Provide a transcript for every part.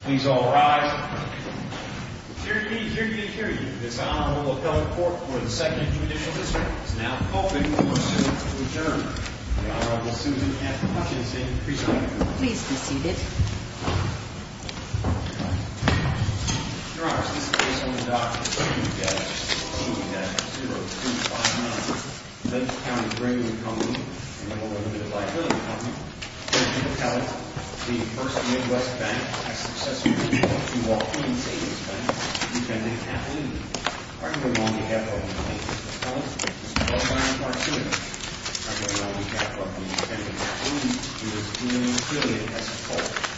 Please all rise. Hear ye, hear ye, hear ye. This Honorable Appellate Court for the 2nd Judicial District is now open for a suit of adjournment. The Honorable Susan F. Hutchinson presiding. Please be seated. Your Honors, this is the case of the Dr. W.G.S.T.-0259, Lake County Grading Company, and a little bit of liability company. Mr. Appellate, the First Midwest Bank has successfully been able to walk into this bank to defend its affidavit. On behalf of Mr. Appellate, Mr. Appellate, on behalf of the defendant affidavit, it is in the opinion of the court.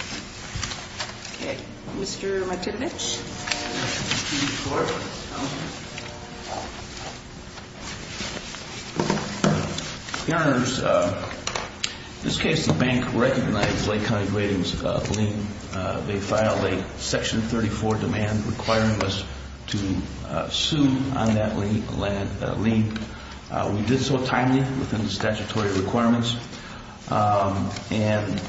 Mr. McKibbage. Your Honors, in this case, the bank recognized Lake County Grading's lien. They filed a Section 34 demand requiring us to sue on that lien. We did so timely within the statutory requirements, and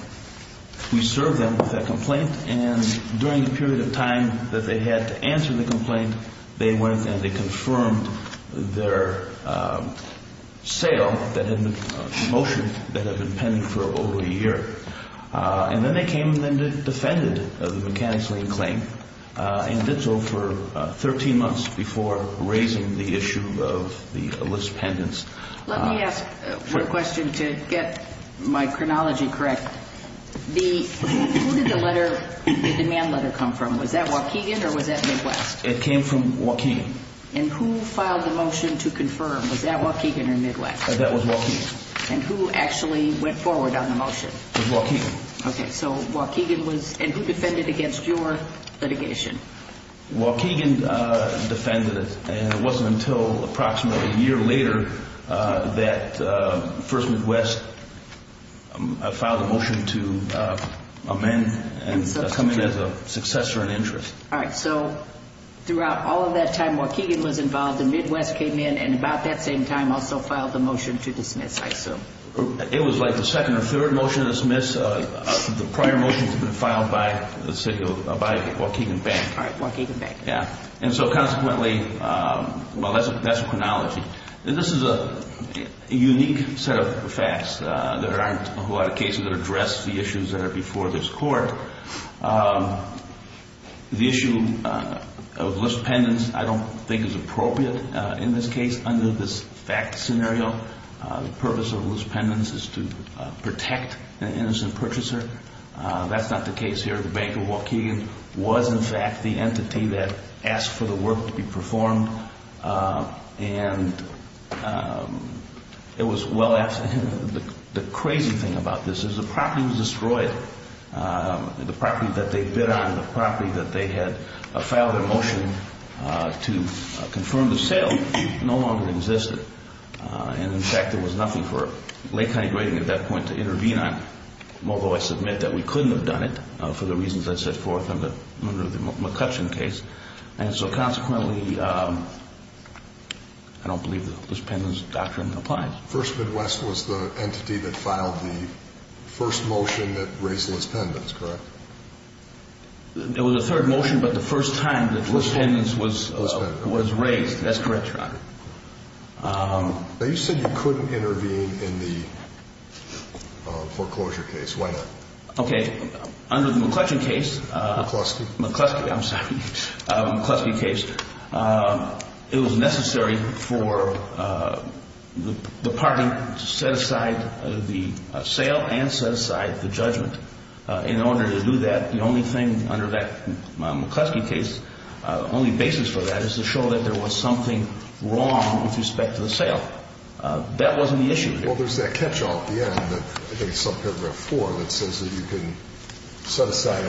we served them with that complaint. And during the period of time that they had to answer the complaint, they went and they confirmed their sale motion that had been pending for over a year. And then they came and then defended the mechanics lien claim, and did so for 13 months before raising the issue of the list pendants. Let me ask one question to get my chronology correct. Who did the demand letter come from? Was that Waukegan or was that Midwest? It came from Waukegan. And who filed the motion to confirm? Was that Waukegan or Midwest? That was Waukegan. And who actually went forward on the motion? It was Waukegan. Okay, so Waukegan was, and who defended against your litigation? Waukegan defended it, and it wasn't until approximately a year later that First Midwest filed a motion to amend and come in as a successor in interest. All right, so throughout all of that time, Waukegan was involved, and Midwest came in and about that same time also filed the motion to dismiss, I assume. It was like the second or third motion to dismiss. The prior motions had been filed by the city of Waukegan Bank. All right, Waukegan Bank. Yeah, and so consequently, well, that's a chronology. This is a unique set of facts. There aren't a lot of cases that address the issues that are before this court. The issue of list pendants I don't think is appropriate in this case under this fact scenario. The purpose of list pendants is to protect an innocent purchaser. That's not the case here. The Bank of Waukegan was, in fact, the entity that asked for the work to be performed, and it was well asked. The crazy thing about this is the property was destroyed. The property that they bid on, the property that they had filed a motion to confirm the sale, no longer existed. And, in fact, there was nothing for Lake County Grading at that point to intervene on, although I submit that we couldn't have done it for the reasons I set forth under the McCutcheon case. And so, consequently, I don't believe the list pendants doctrine applies. First Midwest was the entity that filed the first motion that raised list pendants, correct? It was the third motion, but the first time the list pendants was raised. That's correct, Your Honor. Now, you said you couldn't intervene in the foreclosure case. Why not? Okay, under the McCutcheon case. McCluskey. McCluskey, I'm sorry. McCluskey case. It was necessary for the party to set aside the sale and set aside the judgment. In order to do that, the only thing under that McCluskey case, the only basis for that is to show that there was something wrong with respect to the sale. That wasn't the issue. Well, there's that catch-all at the end, I think it's subparagraph 4, that says that you can set aside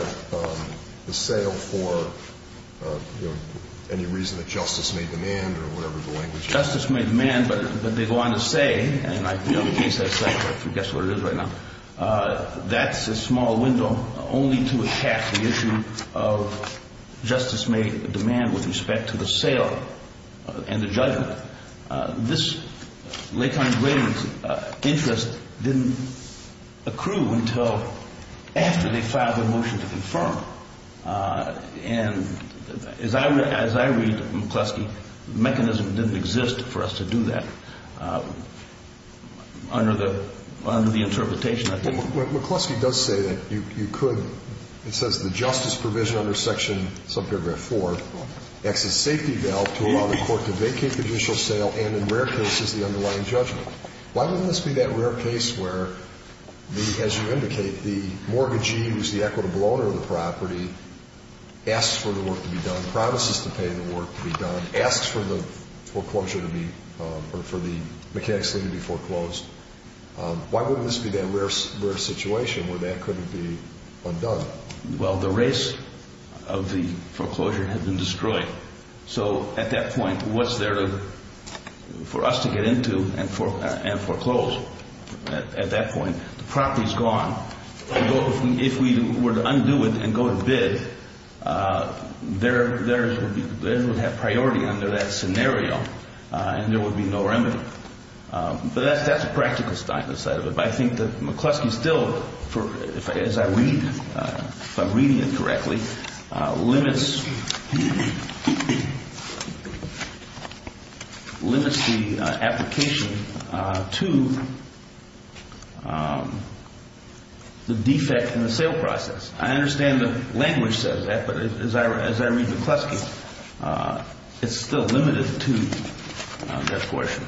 the sale for any reason that justice may demand or whatever the language is. Justice may demand, but they go on to say, and I can't set it aside, but I can guess what it is right now. That's a small window only to attack the issue of justice may demand with respect to the sale and the judgment. But this lay kind of interest didn't accrue until after they filed the motion to confirm. And as I read McCluskey, the mechanism didn't exist for us to do that. Under the interpretation, I think. McCluskey does say that you could. It says the justice provision under section subparagraph 4, acts as safety valve to allow the court to vacate the judicial sale and in rare cases the underlying judgment. Why wouldn't this be that rare case where, as you indicate, the mortgagee who's the equitable owner of the property asks for the work to be done, promises to pay the work to be done, asks for the foreclosure to be, or for the mechanics to be foreclosed. Why wouldn't this be that rare situation where that couldn't be undone? Well, the race of the foreclosure had been destroyed. So at that point, what's there for us to get into and foreclose at that point? The property's gone. If we were to undo it and go to bid, theirs would have priority under that scenario, and there would be no remedy. But that's the practical side of it. I think that McCluskey still, as I read, if I'm reading it correctly, limits the application to the defect in the sale process. I understand the language says that, but as I read McCluskey, it's still limited to that question.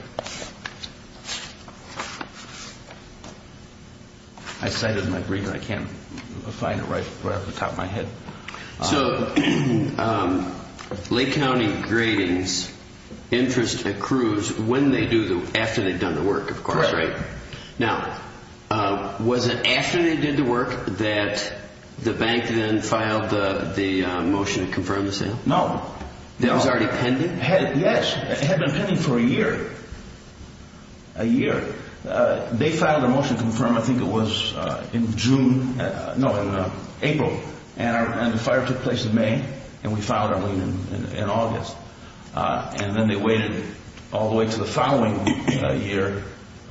I cited it in my brief, and I can't find it right off the top of my head. So Lake County Grading's interest accrues after they've done the work, of course, right? Correct. Now, was it after they did the work that the bank then filed the motion to confirm the sale? No. It was already pending? Yes. It had been pending for a year, a year. They filed a motion to confirm, I think it was in June, no, in April, and the fire took place in May, and we filed our lien in August. And then they waited all the way to the following year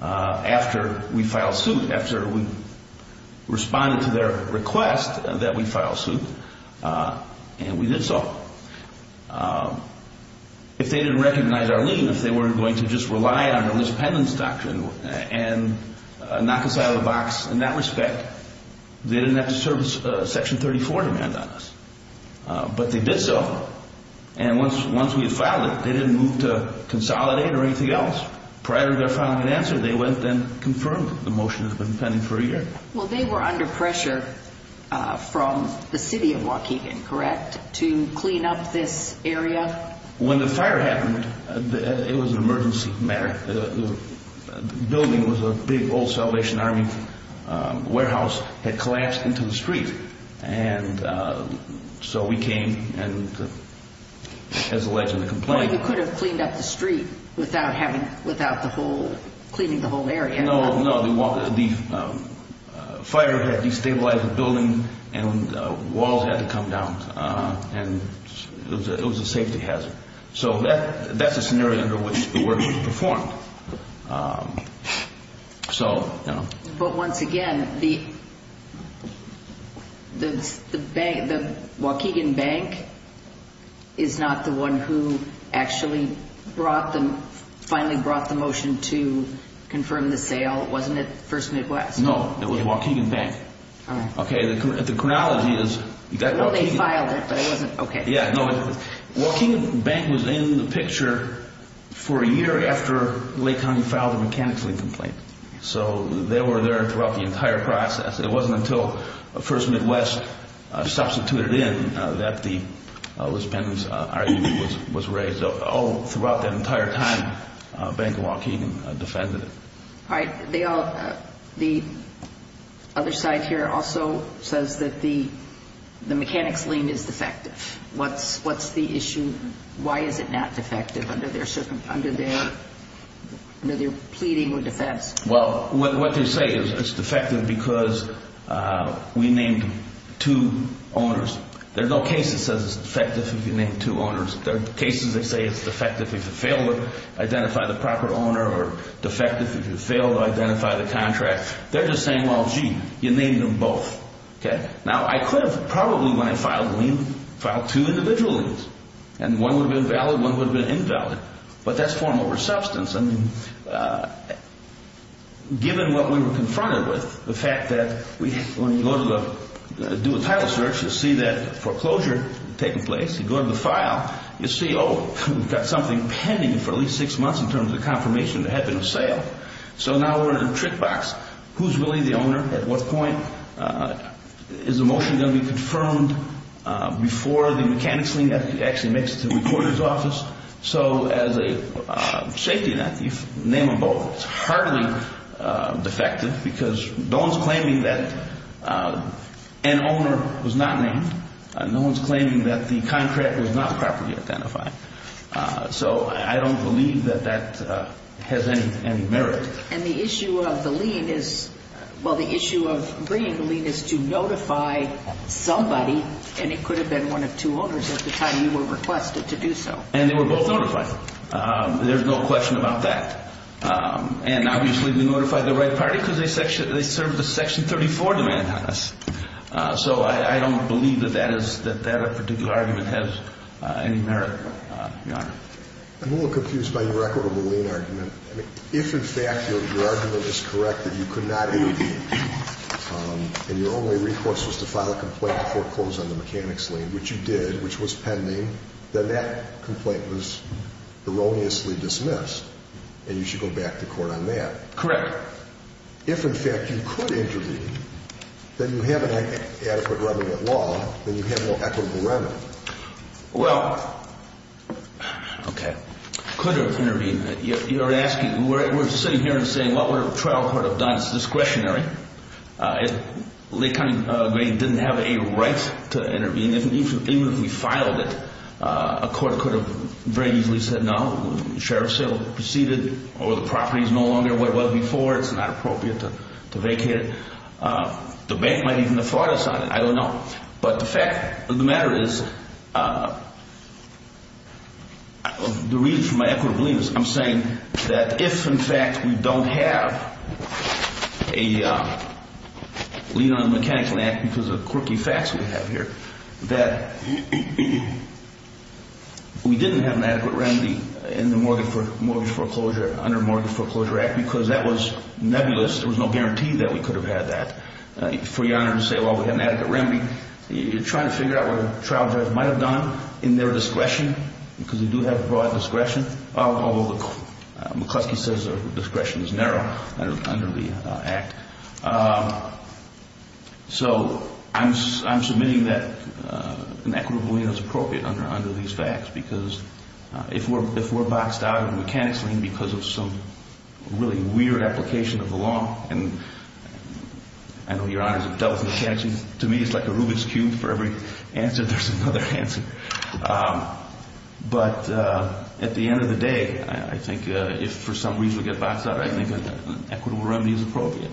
after we filed suit, after we responded to their request that we file suit, and we did so. If they didn't recognize our lien, if they weren't going to just rely on Elizabeth Penland's doctrine and knock us out of the box in that respect, they didn't have to service Section 34 demand on us. But they did so, and once we had filed it, they didn't move to consolidate or anything else. Prior to their filing an answer, they went and confirmed the motion that had been pending for a year. Well, they were under pressure from the city of Waukegan, correct, to clean up this area? When the fire happened, it was an emergency matter. The building was a big old Salvation Army warehouse had collapsed into the street, and so we came and, as alleged in the complaint. Well, you could have cleaned up the street without cleaning the whole area. No, no. The fire had destabilized the building, and walls had to come down, and it was a safety hazard. So that's a scenario under which the work was performed. But once again, the Waukegan Bank is not the one who actually finally brought the motion to confirm the sale, wasn't it First Midwest? No, it was Waukegan Bank. Okay. The chronology is Waukegan. Well, they filed it, but it wasn't, okay. Yeah, no, Waukegan Bank was in the picture for a year after Lake County filed a mechanics lien complaint. So they were there throughout the entire process. It wasn't until First Midwest substituted in that the pendants was raised. All throughout that entire time, Bank of Waukegan defended it. All right. The other side here also says that the mechanics lien is defective. What's the issue? Why is it not defective under their pleading or defense? Well, what they say is it's defective because we named two owners. There's no case that says it's defective if you name two owners. There are cases that say it's defective if you fail to identify the proper owner or defective if you fail to identify the contract. They're just saying, well, gee, you named them both. Okay. Now, I could have probably, when I filed the lien, filed two individual liens, and one would have been valid, one would have been invalid. But that's form over substance. And given what we were confronted with, the fact that when you go to do a title search, you see that foreclosure taking place. You go to the file. You see, oh, we've got something pending for at least six months in terms of the confirmation there had been a sale. So now we're in a trick box. Who's really the owner? At what point is the motion going to be confirmed before the mechanics lien actually makes it to the recorder's office? So as a safety net, you name them both. It's hardly defective because no one's claiming that an owner was not named. No one's claiming that the contract was not properly identified. So I don't believe that that has any merit. And the issue of the lien is, well, the issue of bringing the lien is to notify somebody, and it could have been one of two owners at the time you were requested to do so. And they were both notified. There's no question about that. And, obviously, we notified the right party because they served the Section 34 demand on us. So I don't believe that that particular argument has any merit. I'm a little confused by your record of the lien argument. If, in fact, your argument is correct that you could not intervene and your only recourse was to file a complaint before it closed on the mechanics lien, which you did, which was pending, then that complaint was erroneously dismissed, and you should go back to court on that. Correct. If, in fact, you could intervene, then you have an adequate remnant law, then you have an equitable remnant. Well, okay, could have intervened. You're asking, we're sitting here and saying, well, we're a trial court of Don's discretionary. If Lake County didn't have a right to intervene, even if we filed it, a court could have very easily said no. The sheriff's sale proceeded or the property is no longer where it was before. It's not appropriate to vacate it. The bank might even have fought us on it. I don't know. But the fact of the matter is, the reason for my equitable lien is I'm saying that if, in fact, we don't have a lien on the mechanics lien act because of the quirky facts we have here, that we didn't have an adequate remedy in the mortgage foreclosure under the Mortgage Foreclosure Act because that was nebulous. There was no guarantee that we could have had that. For your honor to say, well, we have an adequate remedy, you're trying to figure out what a trial judge might have done in their discretion because they do have broad discretion, although McCluskey says their discretion is narrow under the act. So I'm submitting that an equitable lien is appropriate under these facts because if we're boxed out of the mechanics lien because of some really weird application of the law, and I know your honors have dealt with mechanics liens. To me, it's like a Rubik's cube. For every answer, there's another answer. But at the end of the day, I think if for some reason we get boxed out, I think an equitable remedy is appropriate.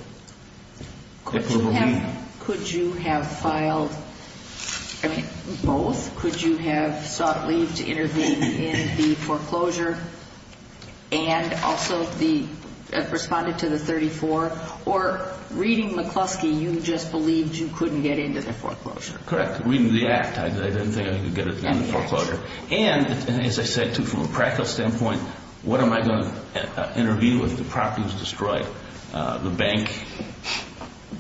Equitable lien. Could you have filed both? Could you have sought leave to intervene in the foreclosure and also responded to the 34? Or reading McCluskey, you just believed you couldn't get into the foreclosure? Correct. Reading the act, I didn't think I could get into the foreclosure. And as I said, too, from a practical standpoint, what am I going to interview if the property was destroyed? The bank,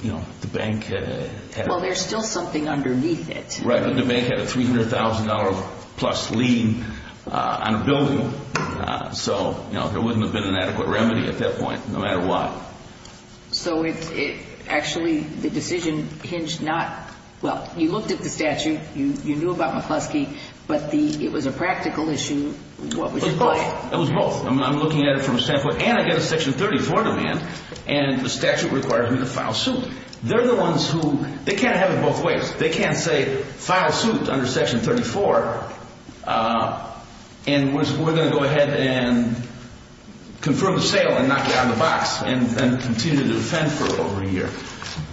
you know, the bank had a Well, there's still something underneath it. Right. The bank had a $300,000 plus lien on a building. So, you know, there wouldn't have been an adequate remedy at that point, no matter what. So it actually the decision hinged not. Well, you looked at the statute. You knew about McCluskey, but the it was a practical issue. What was it? It was both. I'm looking at it from a standpoint. And I get a section 34 demand. And the statute requires me to file suit. They're the ones who they can't have it both ways. They can't say file suit under Section 34. And we're going to go ahead and confirm the sale and knock it out of the box and continue to defend for over a year.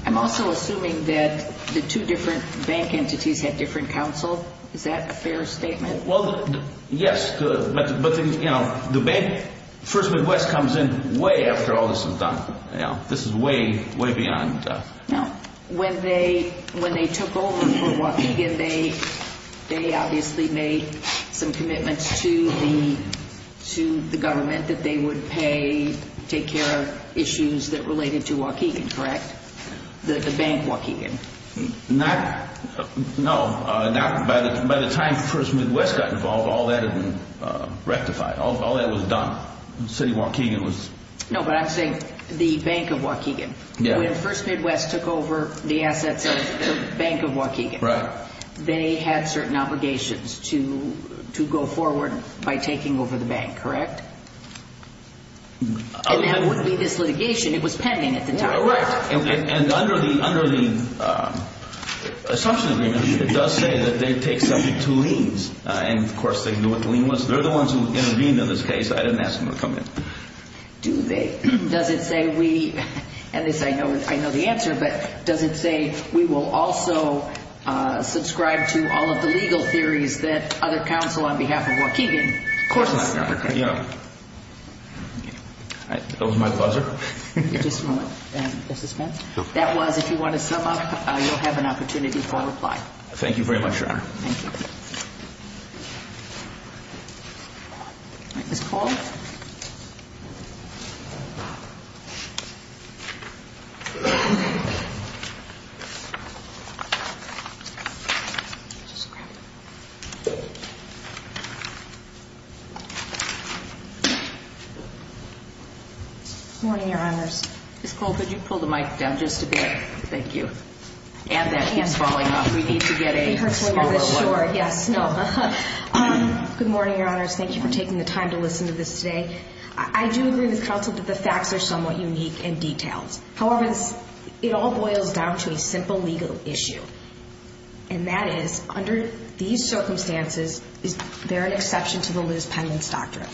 I'm also assuming that the two different bank entities had different counsel. Is that a fair statement? Well, yes. But, you know, the first Midwest comes in way after all this is done. This is way, way beyond. Now, when they when they took over for Waukegan, they they obviously made some commitments to the to the government that they would pay, take care of issues that related to Waukegan. Correct. The bank, Waukegan. Not. No, not by the time first Midwest got involved. All that rectified. All that was done. City of Waukegan was. No, but I'm saying the Bank of Waukegan. Yeah. First Midwest took over the assets of the Bank of Waukegan. Right. They had certain obligations to to go forward by taking over the bank. Correct. And that would be this litigation. It was pending at the time. Right. And under the under the assumption, it does say that they take something to liens. And, of course, they knew what the lien was. They're the ones who intervened in this case. I didn't ask them to come in. Do they? Does it say we. And this I know I know the answer. But does it say we will also subscribe to all of the legal theories that other counsel on behalf of Waukegan courses? Yeah. That was my buzzer. Just a moment. That was if you want to sum up, you'll have an opportunity for reply. Thank you very much, Your Honor. Thank you. Ms. Paul. Good morning, Your Honors. Ms. Paul, could you pull the mic down just a bit? Thank you. And that hand's falling off. We need to get a smaller one. Sure. Yes. No. Good morning, Your Honors. Thank you for taking the time to listen to this today. I do agree with counsel that the facts are somewhat unique and detailed. However, it all boils down to a simple legal issue. And that is, under these circumstances, is there an exception to the Liz Penland's doctrine?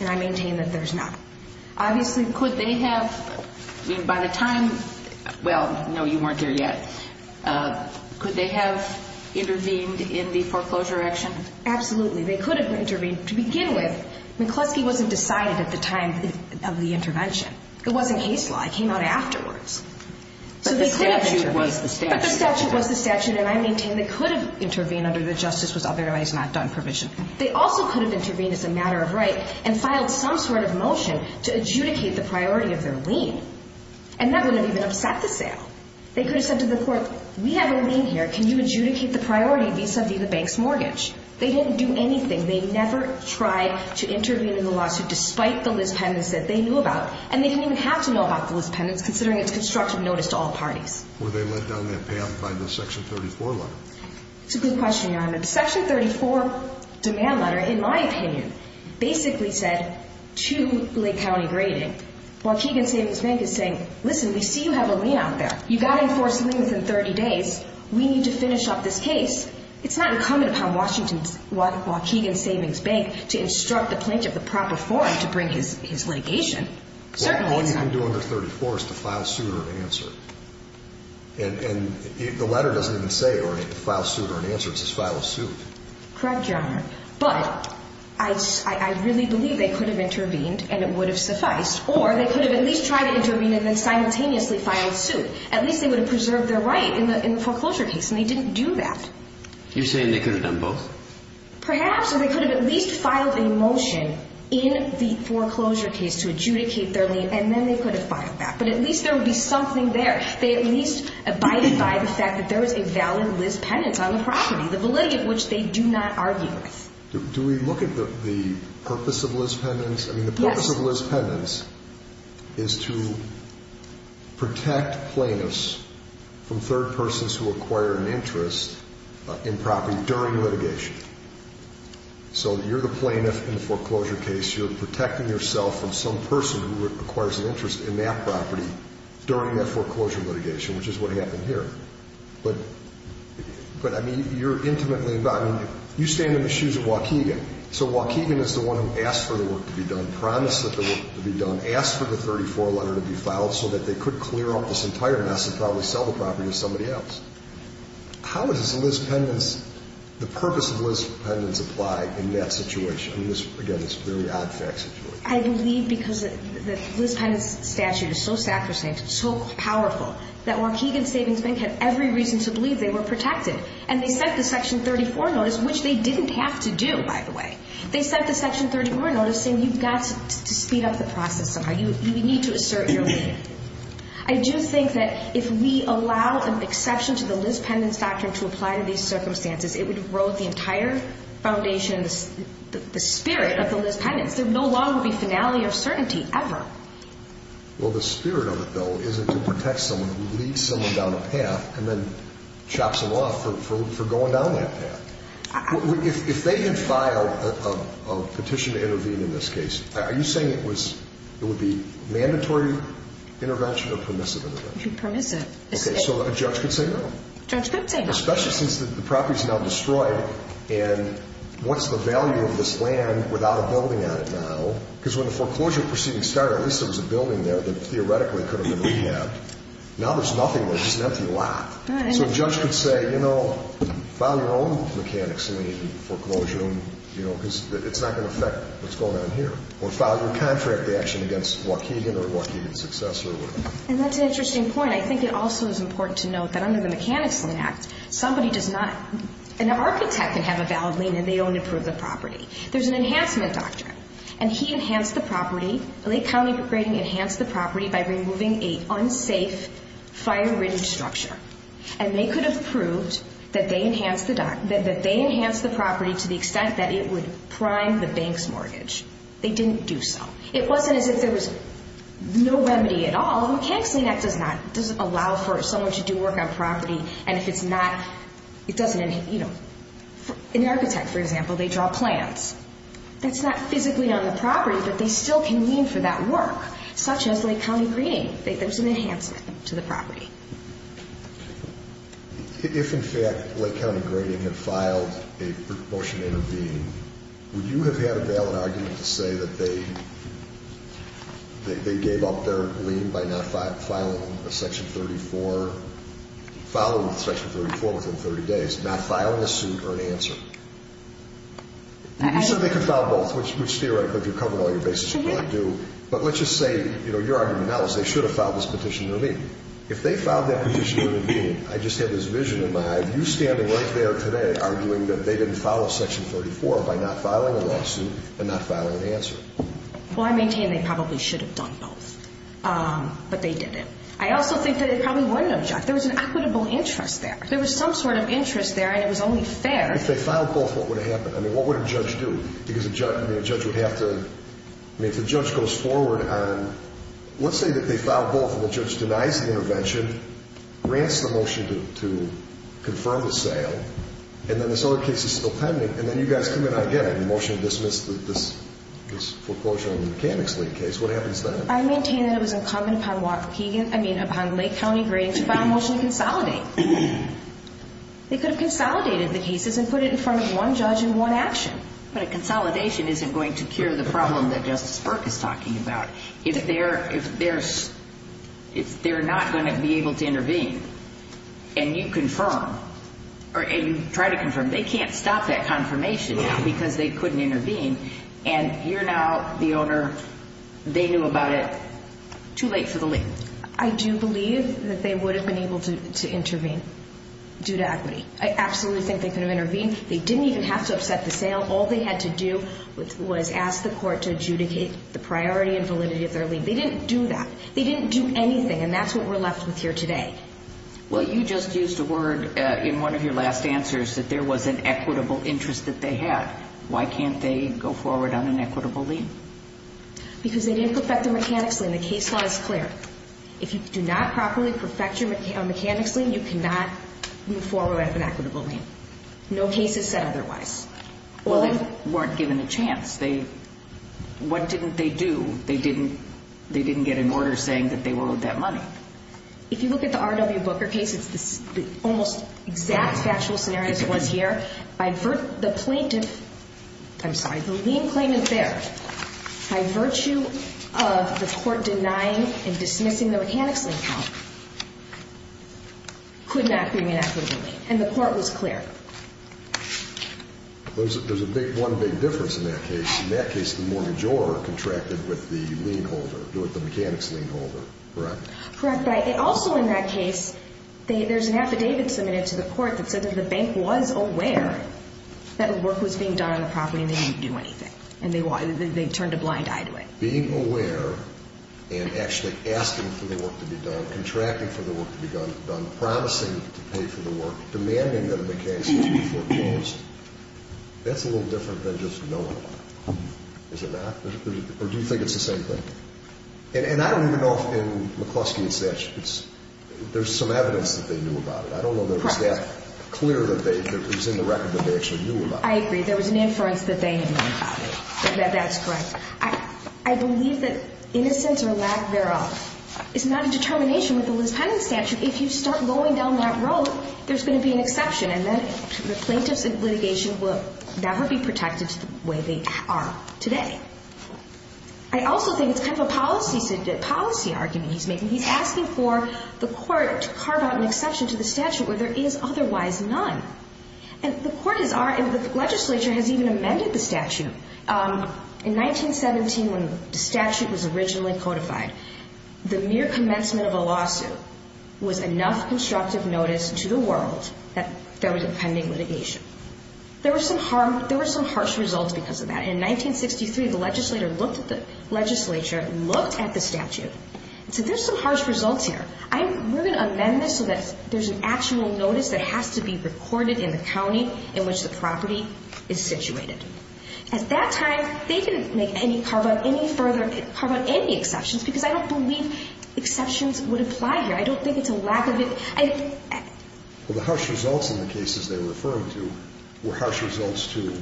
And I maintain that there's not. Obviously, could they have, by the time, well, no, you weren't there yet. Could they have intervened in the foreclosure action? Absolutely. They could have intervened. To begin with, McCluskey wasn't decided at the time of the intervention. It wasn't case law. It came out afterwards. But the statute was the statute. But the statute was the statute. And I maintain they could have intervened under the justice was otherwise not done provision. They also could have intervened as a matter of right and filed some sort of motion to adjudicate the priority of their lien. And that would have even upset the sale. They could have said to the court, we have a lien here. Can you adjudicate the priority vis-a-vis the bank's mortgage? They didn't do anything. They never tried to intervene in the lawsuit despite the Liz Penland's that they knew about. And they didn't even have to know about the Liz Penland's considering it's constructive notice to all parties. Were they led down that path by the Section 34 letter? It's a good question, Your Honor. The Section 34 demand letter, in my opinion, basically said to Lake County Grading, Waukegan Savings Bank is saying, listen, we see you have a lien out there. You've got to enforce the lien within 30 days. We need to finish up this case. It's not incumbent upon Washington's Waukegan Savings Bank to instruct the plaintiff the proper form to bring his litigation. Certainly it's not. Well, all you can do under 34 is to file suit or an answer. And the letter doesn't even say file suit or an answer. It says file a suit. Correct, Your Honor. But I really believe they could have intervened and it would have sufficed. Or they could have at least tried to intervene and then simultaneously filed suit. At least they would have preserved their right in the foreclosure case. And they didn't do that. You're saying they could have done both? Perhaps. Or they could have at least filed a motion in the foreclosure case to adjudicate their lien, and then they could have filed that. But at least there would be something there. They at least abided by the fact that there is a valid Liz Penance on the property, the validity of which they do not argue with. Do we look at the purpose of Liz Penance? Yes. I mean, the purpose of Liz Penance is to protect plaintiffs from third persons who acquire an interest in property during litigation. So you're the plaintiff in the foreclosure case. You're protecting yourself from some person who acquires an interest in that property during that foreclosure litigation, which is what happened here. But, I mean, you're intimately involved. You stand in the shoes of Waukegan. So Waukegan is the one who asked for the work to be done, promised that the work would be done, asked for the 34 letter to be filed so that they could clear up this entire mess and probably sell the property to somebody else. How does Liz Penance, the purpose of Liz Penance apply in that situation, in this, again, this very odd fact situation? I believe because the Liz Penance statute is so sacrosanct, so powerful, that Waukegan Savings Bank had every reason to believe they were protected. And they sent the Section 34 notice, which they didn't have to do, by the way. They sent the Section 34 notice saying you've got to speed up the process somehow. You need to assert your lead. I do think that if we allow an exception to the Liz Penance doctrine to apply to these circumstances, it would erode the entire foundation, the spirit of the Liz Penance. There would no longer be finale or certainty ever. Well, the spirit of it, though, is it to protect someone who leads someone down a path and then chops them off for going down that path. If they had filed a petition to intervene in this case, are you saying it would be mandatory intervention or permissive intervention? Permissive. Okay, so a judge could say no. Judge could say no. Especially since the property is now destroyed, and what's the value of this land without a building on it now? Because when the foreclosure proceedings started, at least there was a building there that theoretically could have been rehabbed. Now there's nothing there. It's an empty lot. So a judge could say, you know, file your own mechanics lien foreclosure, because it's not going to affect what's going on here. Or file your contract action against Waukegan or Waukegan Success or whatever. And that's an interesting point. I think it also is important to note that under the Mechanics Lien Act, somebody does not ñ an architect can have a valid lien and they don't improve the property. There's an enhancement doctrine, and he enhanced the property. The Lake County rating enhanced the property by removing an unsafe, fire-ridden structure. And they could have proved that they enhanced the property to the extent that it would prime the bank's mortgage. They didn't do so. It wasn't as if there was no remedy at all. The Mechanics Lien Act does not allow for someone to do work on property, and if it's not, it doesn't ñ you know, an architect, for example, they draw plans. That's not physically on the property, but they still can lien for that work, such as Lake County grading. There's an enhancement to the property. If, in fact, Lake County grading had filed a motion to intervene, would you have had a valid argument to say that they gave up their lien by not filing a Section 34, filed Section 34 within 30 days, not filing a suit or an answer? You said they could file both, which theoretically, if you're covering all your bases, you probably do. But let's just say, you know, your argument now is they should have filed this petition to intervene. If they filed that petition to intervene, I just have this vision in my eye of you standing right there today arguing that they didn't file a Section 34 by not filing a lawsuit and not filing an answer. Well, I maintain they probably should have done both, but they didn't. I also think that it probably wouldn't have jumped. There was an equitable interest there. There was some sort of interest there, and it was only fair. If they filed both, what would have happened? I mean, what would a judge do? Because a judge would have to ñ I mean, if the judge goes forward on ñ let's say that they filed both, and the judge denies the intervention, grants the motion to confirm the sale, and then this other case is still pending, and then you guys come in again and motion to dismiss this foreclosure on the mechanics lien case, what happens then? I maintain that it was incumbent upon Lake County Grading to file a motion to consolidate. They could have consolidated the cases and put it in front of one judge in one action. But a consolidation isn't going to cure the problem that Justice Burke is talking about. If they're not going to be able to intervene, and you try to confirm, they can't stop that confirmation because they couldn't intervene, and you're now the owner. They knew about it. Too late for the lien. I do believe that they would have been able to intervene due to equity. I absolutely think they could have intervened. They didn't even have to upset the sale. All they had to do was ask the court to adjudicate the priority and validity of their lien. They didn't do that. They didn't do anything, and that's what we're left with here today. Well, you just used a word in one of your last answers that there was an equitable interest that they had. Why can't they go forward on an equitable lien? Because they didn't perfect the mechanics lien. The case law is clear. If you do not properly perfect your mechanics lien, you cannot move forward with an equitable lien. No case is set otherwise. Well, they weren't given a chance. What didn't they do? They didn't get an order saying that they will owe that money. If you look at the R.W. Booker case, it's the almost exact factual scenario as it was here. The lien claimant there, by virtue of the court denying and dismissing the mechanics lien count, could not bring an equitable lien, and the court was clear. There's one big difference in that case. In that case, the mortgagor contracted with the lien holder, with the mechanics lien holder, correct? Correct, but also in that case, there's an affidavit submitted to the court that said that the bank was aware that work was being done on the property and they didn't do anything, and they turned a blind eye to it. Being aware and actually asking for the work to be done, contracting for the work to be done, promising to pay for the work, demanding that a mechanics lien be foreclosed, that's a little different than just knowing about it, is it not? Or do you think it's the same thing? And I don't even know if in McCluskey and Satch, there's some evidence that they knew about it. I don't know that it was that clear that it was in the record that they actually knew about it. I agree. There was an inference that they knew about it. That's correct. I believe that innocence or lack thereof is not a determination with the Liz Penning statute. If you start going down that road, there's going to be an exception, and then the plaintiffs in litigation will never be protected the way they are today. I also think it's kind of a policy argument he's making. He's asking for the court to carve out an exception to the statute where there is otherwise none. And the legislature has even amended the statute. In 1917, when the statute was originally codified, the mere commencement of a lawsuit was enough constructive notice to the world that there was pending litigation. There were some harsh results because of that. In 1963, the legislature looked at the statute and said there's some harsh results here. We're going to amend this so that there's an actual notice that has to be recorded in the county in which the property is situated. At that time, they didn't carve out any further exceptions because I don't believe exceptions would apply here. I don't think it's a lack of it. Well, the harsh results in the cases they were referring to were harsh results to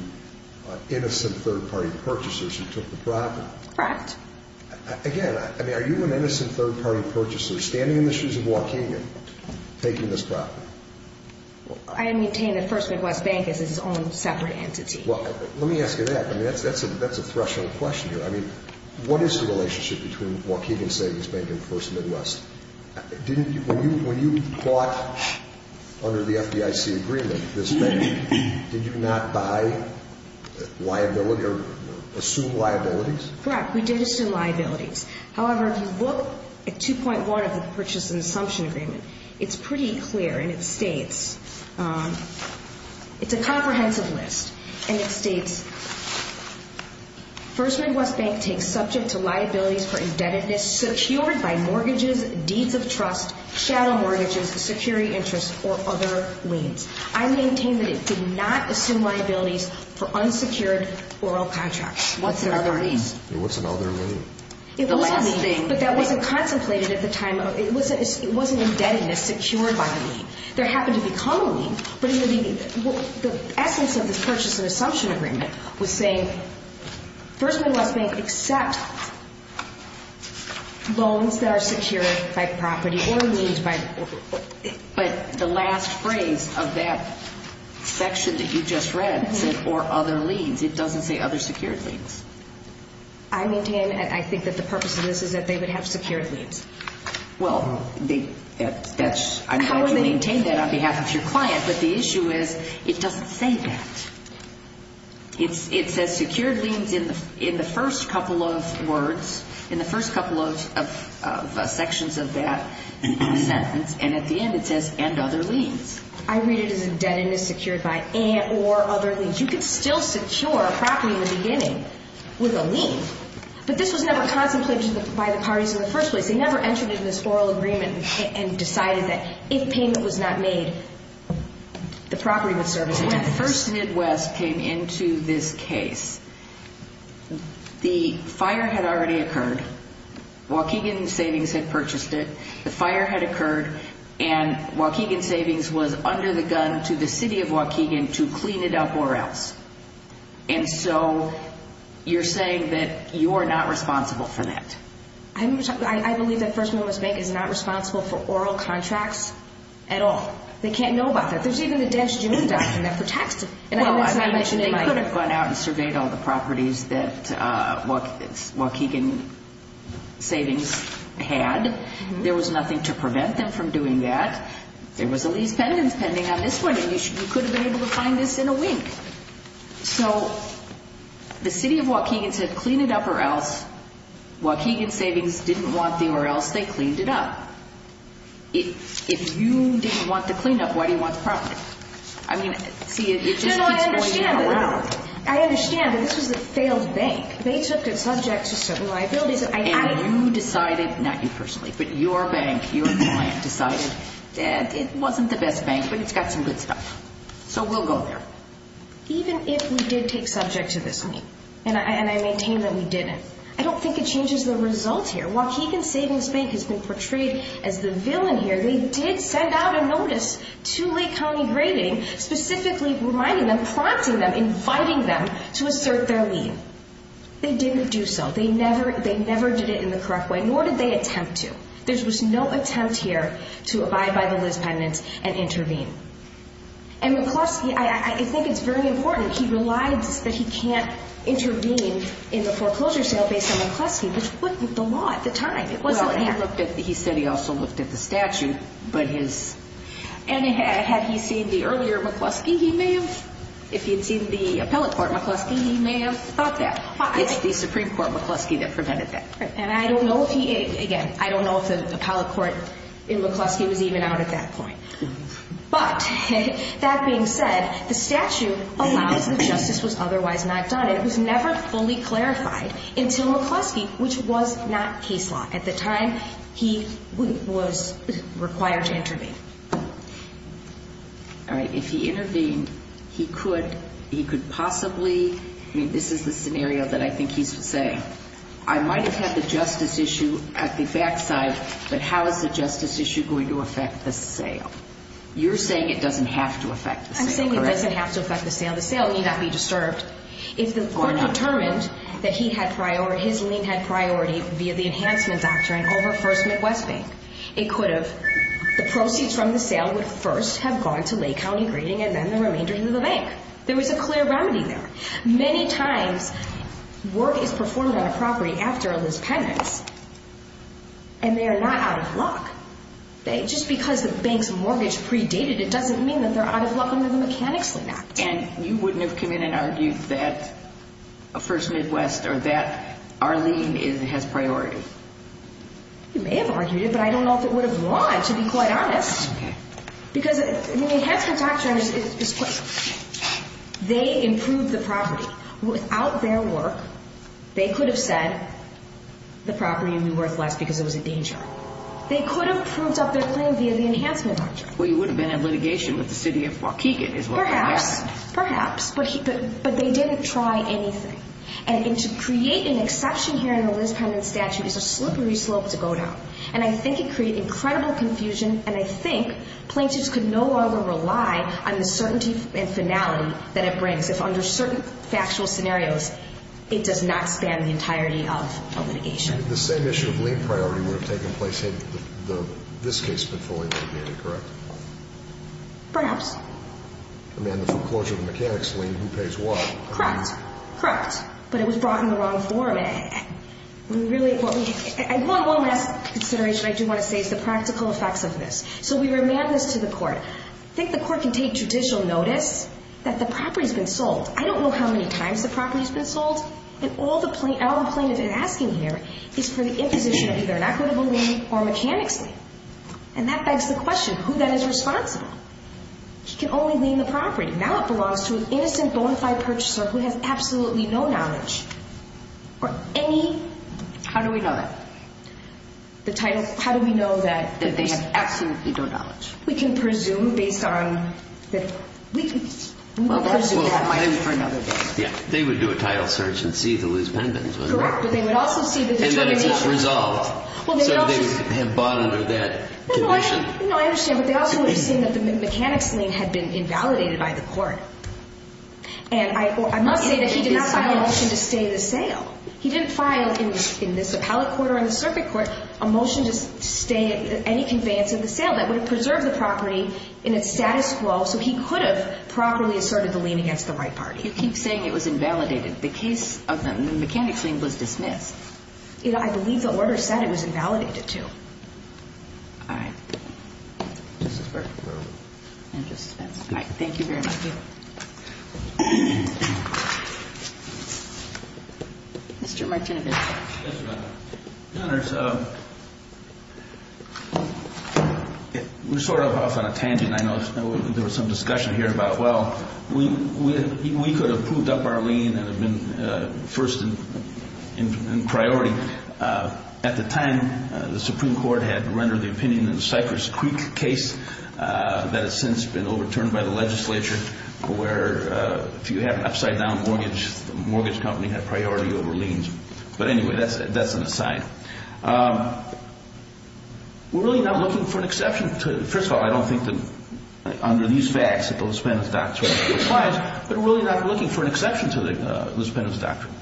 innocent third-party purchasers who took the property. Correct. Again, I mean, are you an innocent third-party purchaser standing in the shoes of Waukegan taking this property? I maintain that First Midwest Bank is its own separate entity. Well, let me ask you that. I mean, that's a threshold question here. I mean, what is the relationship between Waukegan Savings Bank and First Midwest? When you bought under the FDIC agreement this bank, did you not buy liability or assume liabilities? Correct, we did assume liabilities. However, if you look at 2.1 of the Purchase and Assumption Agreement, it's pretty clear, and it states, it's a comprehensive list, and it states, First Midwest Bank takes subject to liabilities for indebtedness secured by mortgages, deeds of trust, shadow mortgages, security interests, or other liens. I maintain that it did not assume liabilities for unsecured oral contracts. What's an other lien? What's an other lien? But that wasn't contemplated at the time. It wasn't indebtedness secured by a lien. There happened to become a lien. But the essence of this Purchase and Assumption Agreement was saying, First Midwest Bank accepts loans that are secured by property or liens. But the last phrase of that section that you just read said, or other liens. It doesn't say other secured liens. I maintain, and I think that the purpose of this is that they would have secured liens. Well, I know that you maintain that on behalf of your client, but the issue is it doesn't say that. It says secured liens in the first couple of words, in the first couple of sections of that sentence, and at the end it says, and other liens. I read it as indebtedness secured by and or other liens. You could still secure a property in the beginning with a lien, but this was never contemplated by the parties in the first place. They never entered it in this oral agreement and decided that if payment was not made, the property would serve as indebtedness. When First Midwest came into this case, the fire had already occurred. Waukegan Savings had purchased it. The fire had occurred, and Waukegan Savings was under the gun to the city of Waukegan to clean it up or else. And so you're saying that you are not responsible for that. I believe that First Midwest Bank is not responsible for oral contracts at all. They can't know about that. There's even a dash June document that protects it. Well, I mentioned they could have gone out and surveyed all the properties that Waukegan Savings had. There was nothing to prevent them from doing that. There was a lease pendant pending on this one, and you could have been able to find this in a wink. So the city of Waukegan said clean it up or else. Waukegan Savings didn't want the or else. They cleaned it up. If you didn't want the cleanup, why do you want the property? I mean, see, it just keeps going around. I understand, but this was a failed bank. They took it subject to certain liabilities. And you decided, not you personally, but your bank, your client decided that it wasn't the best bank, but it's got some good stuff. So we'll go there. Even if we did take subject to this lien, and I maintain that we didn't, I don't think it changes the results here. Waukegan Savings Bank has been portrayed as the villain here. They did send out a notice to Lake County Grading specifically reminding them, prompting them, inviting them to assert their lien. They didn't do so. They never did it in the correct way, nor did they attempt to. There was no attempt here to abide by the Liz pendant and intervene. And McCluskey, I think it's very important, he relies that he can't intervene in the foreclosure sale based on McCluskey, which wasn't the law at the time. It wasn't there. Well, he said he also looked at the statute. And had he seen the earlier McCluskey, he may have, if he had seen the appellate court McCluskey, he may have thought that. It's the Supreme Court McCluskey that prevented that. And I don't know if he, again, I don't know if the appellate court in McCluskey was even out at that point. But that being said, the statute allows that justice was otherwise not done. It was never fully clarified until McCluskey, which was not case law at the time, he was required to intervene. All right. If he intervened, he could possibly, I mean, this is the scenario that I think he's saying. I might have had the justice issue at the backside, but how is the justice issue going to affect the sale? You're saying it doesn't have to affect the sale, correct? I'm saying it doesn't have to affect the sale. The sale need not be disturbed. If the court determined that he had priority, his lien had priority via the enhancement doctrine over First Midwest Bank, it could have, the proceeds from the sale would first have gone to Lake County grading and then the remainder to the bank. There was a clear remedy there. Many times work is performed on a property after there's penance, and they are not out of luck. Just because the bank's mortgage predated it doesn't mean that they're out of luck under the Mechanics' Lien Act. And you wouldn't have come in and argued that First Midwest or that our lien has priority? You may have argued it, but I don't know if it would have won, to be quite honest. Because the enhancement doctrine, they improved the property. Without their work, they could have said the property would be worth less because it was a danger. They could have proved up their claim via the enhancement doctrine. Well, you would have been in litigation with the city of Waukegan as well. Perhaps, perhaps. But they didn't try anything. And to create an exception here in the Liz Pendon statute is a slippery slope to go down. And I think it created incredible confusion, and I think plaintiffs could no longer rely on the certainty and finality that it brings. If under certain factual scenarios, it does not span the entirety of litigation. The same issue of lien priority would have taken place had this case been fully litigated, correct? Perhaps. I mean, the foreclosure of the Mechanics' Lien, who pays what? Correct, correct. But it was brought in the wrong form. One last consideration I do want to say is the practical effects of this. So we remand this to the court. I think the court can take judicial notice that the property has been sold. I don't know how many times the property has been sold, and all the plaintiff is asking here is for the imposition of either an equitable lien or a Mechanics' Lien. And that begs the question, who then is responsible? He can only lien the property. Now it belongs to an innocent, bona fide purchaser who has absolutely no knowledge or any – How do we know that? The title – how do we know that – That they have absolutely no knowledge. We can presume based on – we can presume that might be for another day. Yeah. They would do a title search and see if it was pendent, correct? Correct. But they would also see – And that it was resolved. So they would have bought under that condition. No, I understand. But they also would have seen that the Mechanics' Lien had been invalidated by the court. And I must say that he did not file a motion to stay the sale. He didn't file in this appellate court or in the circuit court a motion to stay any conveyance of the sale. That would have preserved the property in its status quo, so he could have properly asserted the lien against the right party. You keep saying it was invalidated. The case of the Mechanics' Lien was dismissed. I believe the order said it was invalidated too. All right. Justice Burke. And Justice Spence. All right. Thank you very much. Thank you. Mr. Martinovich. Yes, Your Honor. Your Honors, we're sort of off on a tangent. I know there was some discussion here about, well, we could have proved up our lien and have been first in priority. At the time, the Supreme Court had rendered the opinion in the Cypress Creek case that has since been overturned by the legislature, where if you have an upside-down mortgage, the mortgage company had priority over liens. But anyway, that's an aside. We're really not looking for an exception to it. First of all, I don't think that under these facts that the Lisbonov's Doctrine applies, but we're really not looking for an exception to the Lisbonov's Doctrine.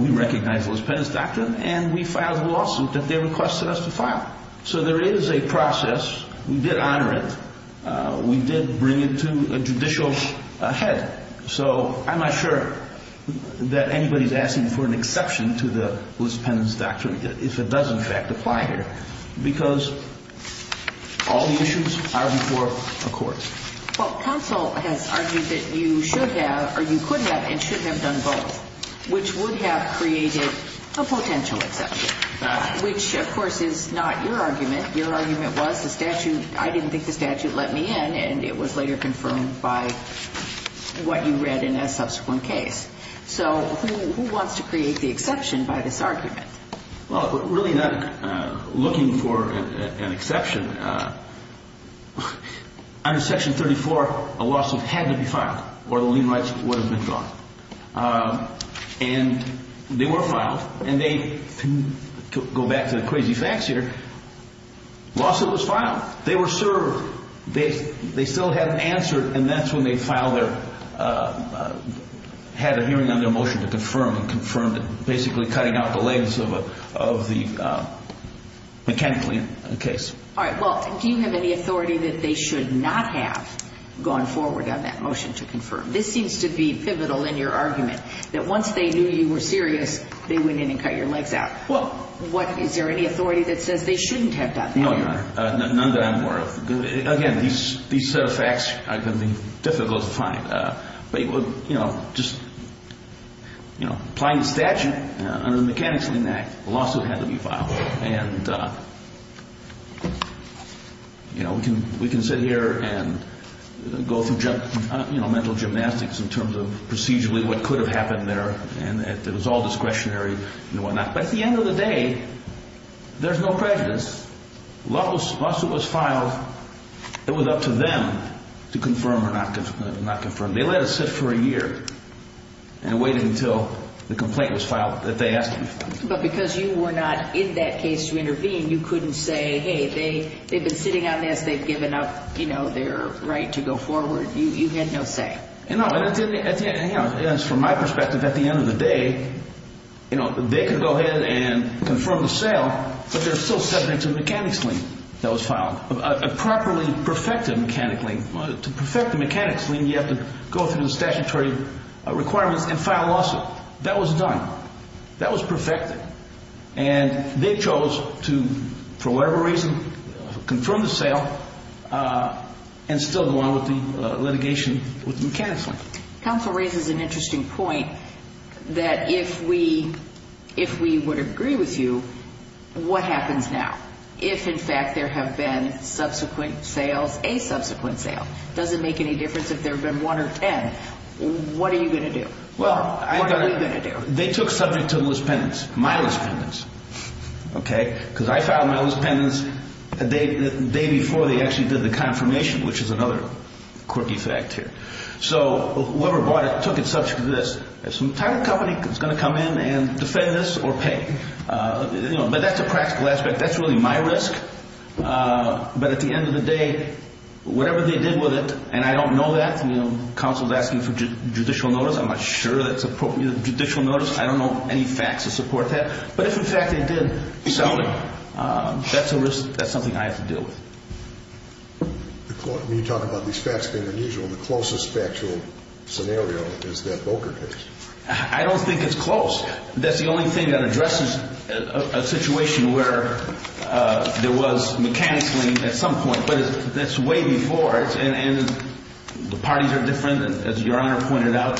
We recognize the Lisbonov's Doctrine, and we filed a lawsuit that they requested us to file. So there is a process. We did honor it. We did bring it to a judicial head. So I'm not sure that anybody's asking for an exception to the Lisbonov's Doctrine if it does, in fact, apply here, because all the issues are before a court. Well, counsel has argued that you should have or you could have and should have done both, which would have created a potential exception, which, of course, is not your argument. Your argument was the statute. I didn't think the statute let me in, and it was later confirmed by what you read in a subsequent case. So who wants to create the exception by this argument? Well, we're really not looking for an exception. Under Section 34, a lawsuit had to be filed or the lien rights would have been drawn. And they were filed, and they, to go back to the crazy facts here, lawsuit was filed. They were served. They still hadn't answered, and that's when they filed their, had a hearing on their motion to confirm and confirmed it, basically cutting out the legs of the mechanical lien case. All right. Well, do you have any authority that they should not have gone forward on that motion to confirm? This seems to be pivotal in your argument, that once they knew you were serious, they went in and cut your legs out. What, is there any authority that says they shouldn't have done that? No, Your Honor. None that I'm aware of. Again, these facts are going to be difficult to find. But, you know, just, you know, applying the statute under the Mechanics of the Act, a lawsuit had to be filed. And, you know, we can sit here and go through, you know, mental gymnastics in terms of procedurally what could have happened there, and it was all discretionary and whatnot. But at the end of the day, there's no prejudice. Once it was filed, it was up to them to confirm or not confirm. They let it sit for a year and waited until the complaint was filed that they asked them to file. But because you were not in that case to intervene, you couldn't say, hey, they've been sitting on this, they've given up, you know, their right to go forward. You had no say. No, and from my perspective, at the end of the day, you know, they could go ahead and confirm the sale, but they're still subject to a mechanics lien that was filed, a properly perfected mechanics lien. To perfect the mechanics lien, you have to go through the statutory requirements and file a lawsuit. That was done. That was perfected. And they chose to, for whatever reason, confirm the sale and still go on with the litigation with the mechanics lien. Counsel raises an interesting point that if we would agree with you, what happens now? If, in fact, there have been subsequent sales, a subsequent sale, does it make any difference if there have been one or ten? What are you going to do? What are we going to do? Well, they took subject to the list of pendants, my list of pendants, okay? Because I filed my list of pendants the day before they actually did the confirmation, which is another quirky fact here. So whoever bought it took it subject to this. If some title company is going to come in and defend this or pay. But that's a practical aspect. That's really my risk. But at the end of the day, whatever they did with it, and I don't know that. Counsel is asking for judicial notice. I'm not sure that's appropriate. Judicial notice, I don't know any facts to support that. But if, in fact, they did sell it, that's a risk. That's something I have to deal with. You talk about these facts being unusual. The closest factual scenario is that Volcker case. I don't think it's close. That's the only thing that addresses a situation where there was mechanically at some point. But that's way before. And the parties are different, as Your Honor pointed out.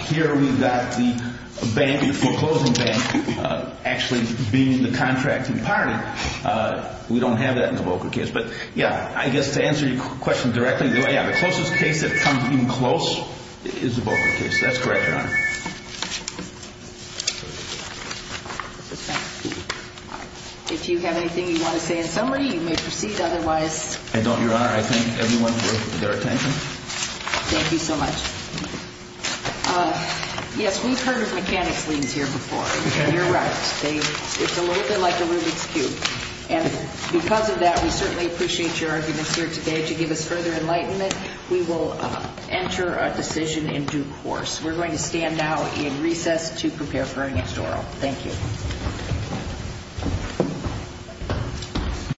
Here we've got the bank, the foreclosing bank, actually being the contracting party. We don't have that in the Volcker case. But, yeah, I guess to answer your question directly, yeah, the closest case that comes in close is the Volcker case. That's correct, Your Honor. If you have anything you want to say in summary, you may proceed. Otherwise. I don't, Your Honor. I thank everyone for their attention. Thank you so much. Yes, we've heard of mechanics liens here before. You're right. It's a little bit like a Rubik's cube. And because of that, we certainly appreciate your arguments here today. To give us further enlightenment, we will enter a decision in due course. We're going to stand now in recess to prepare for our next oral. Thank you.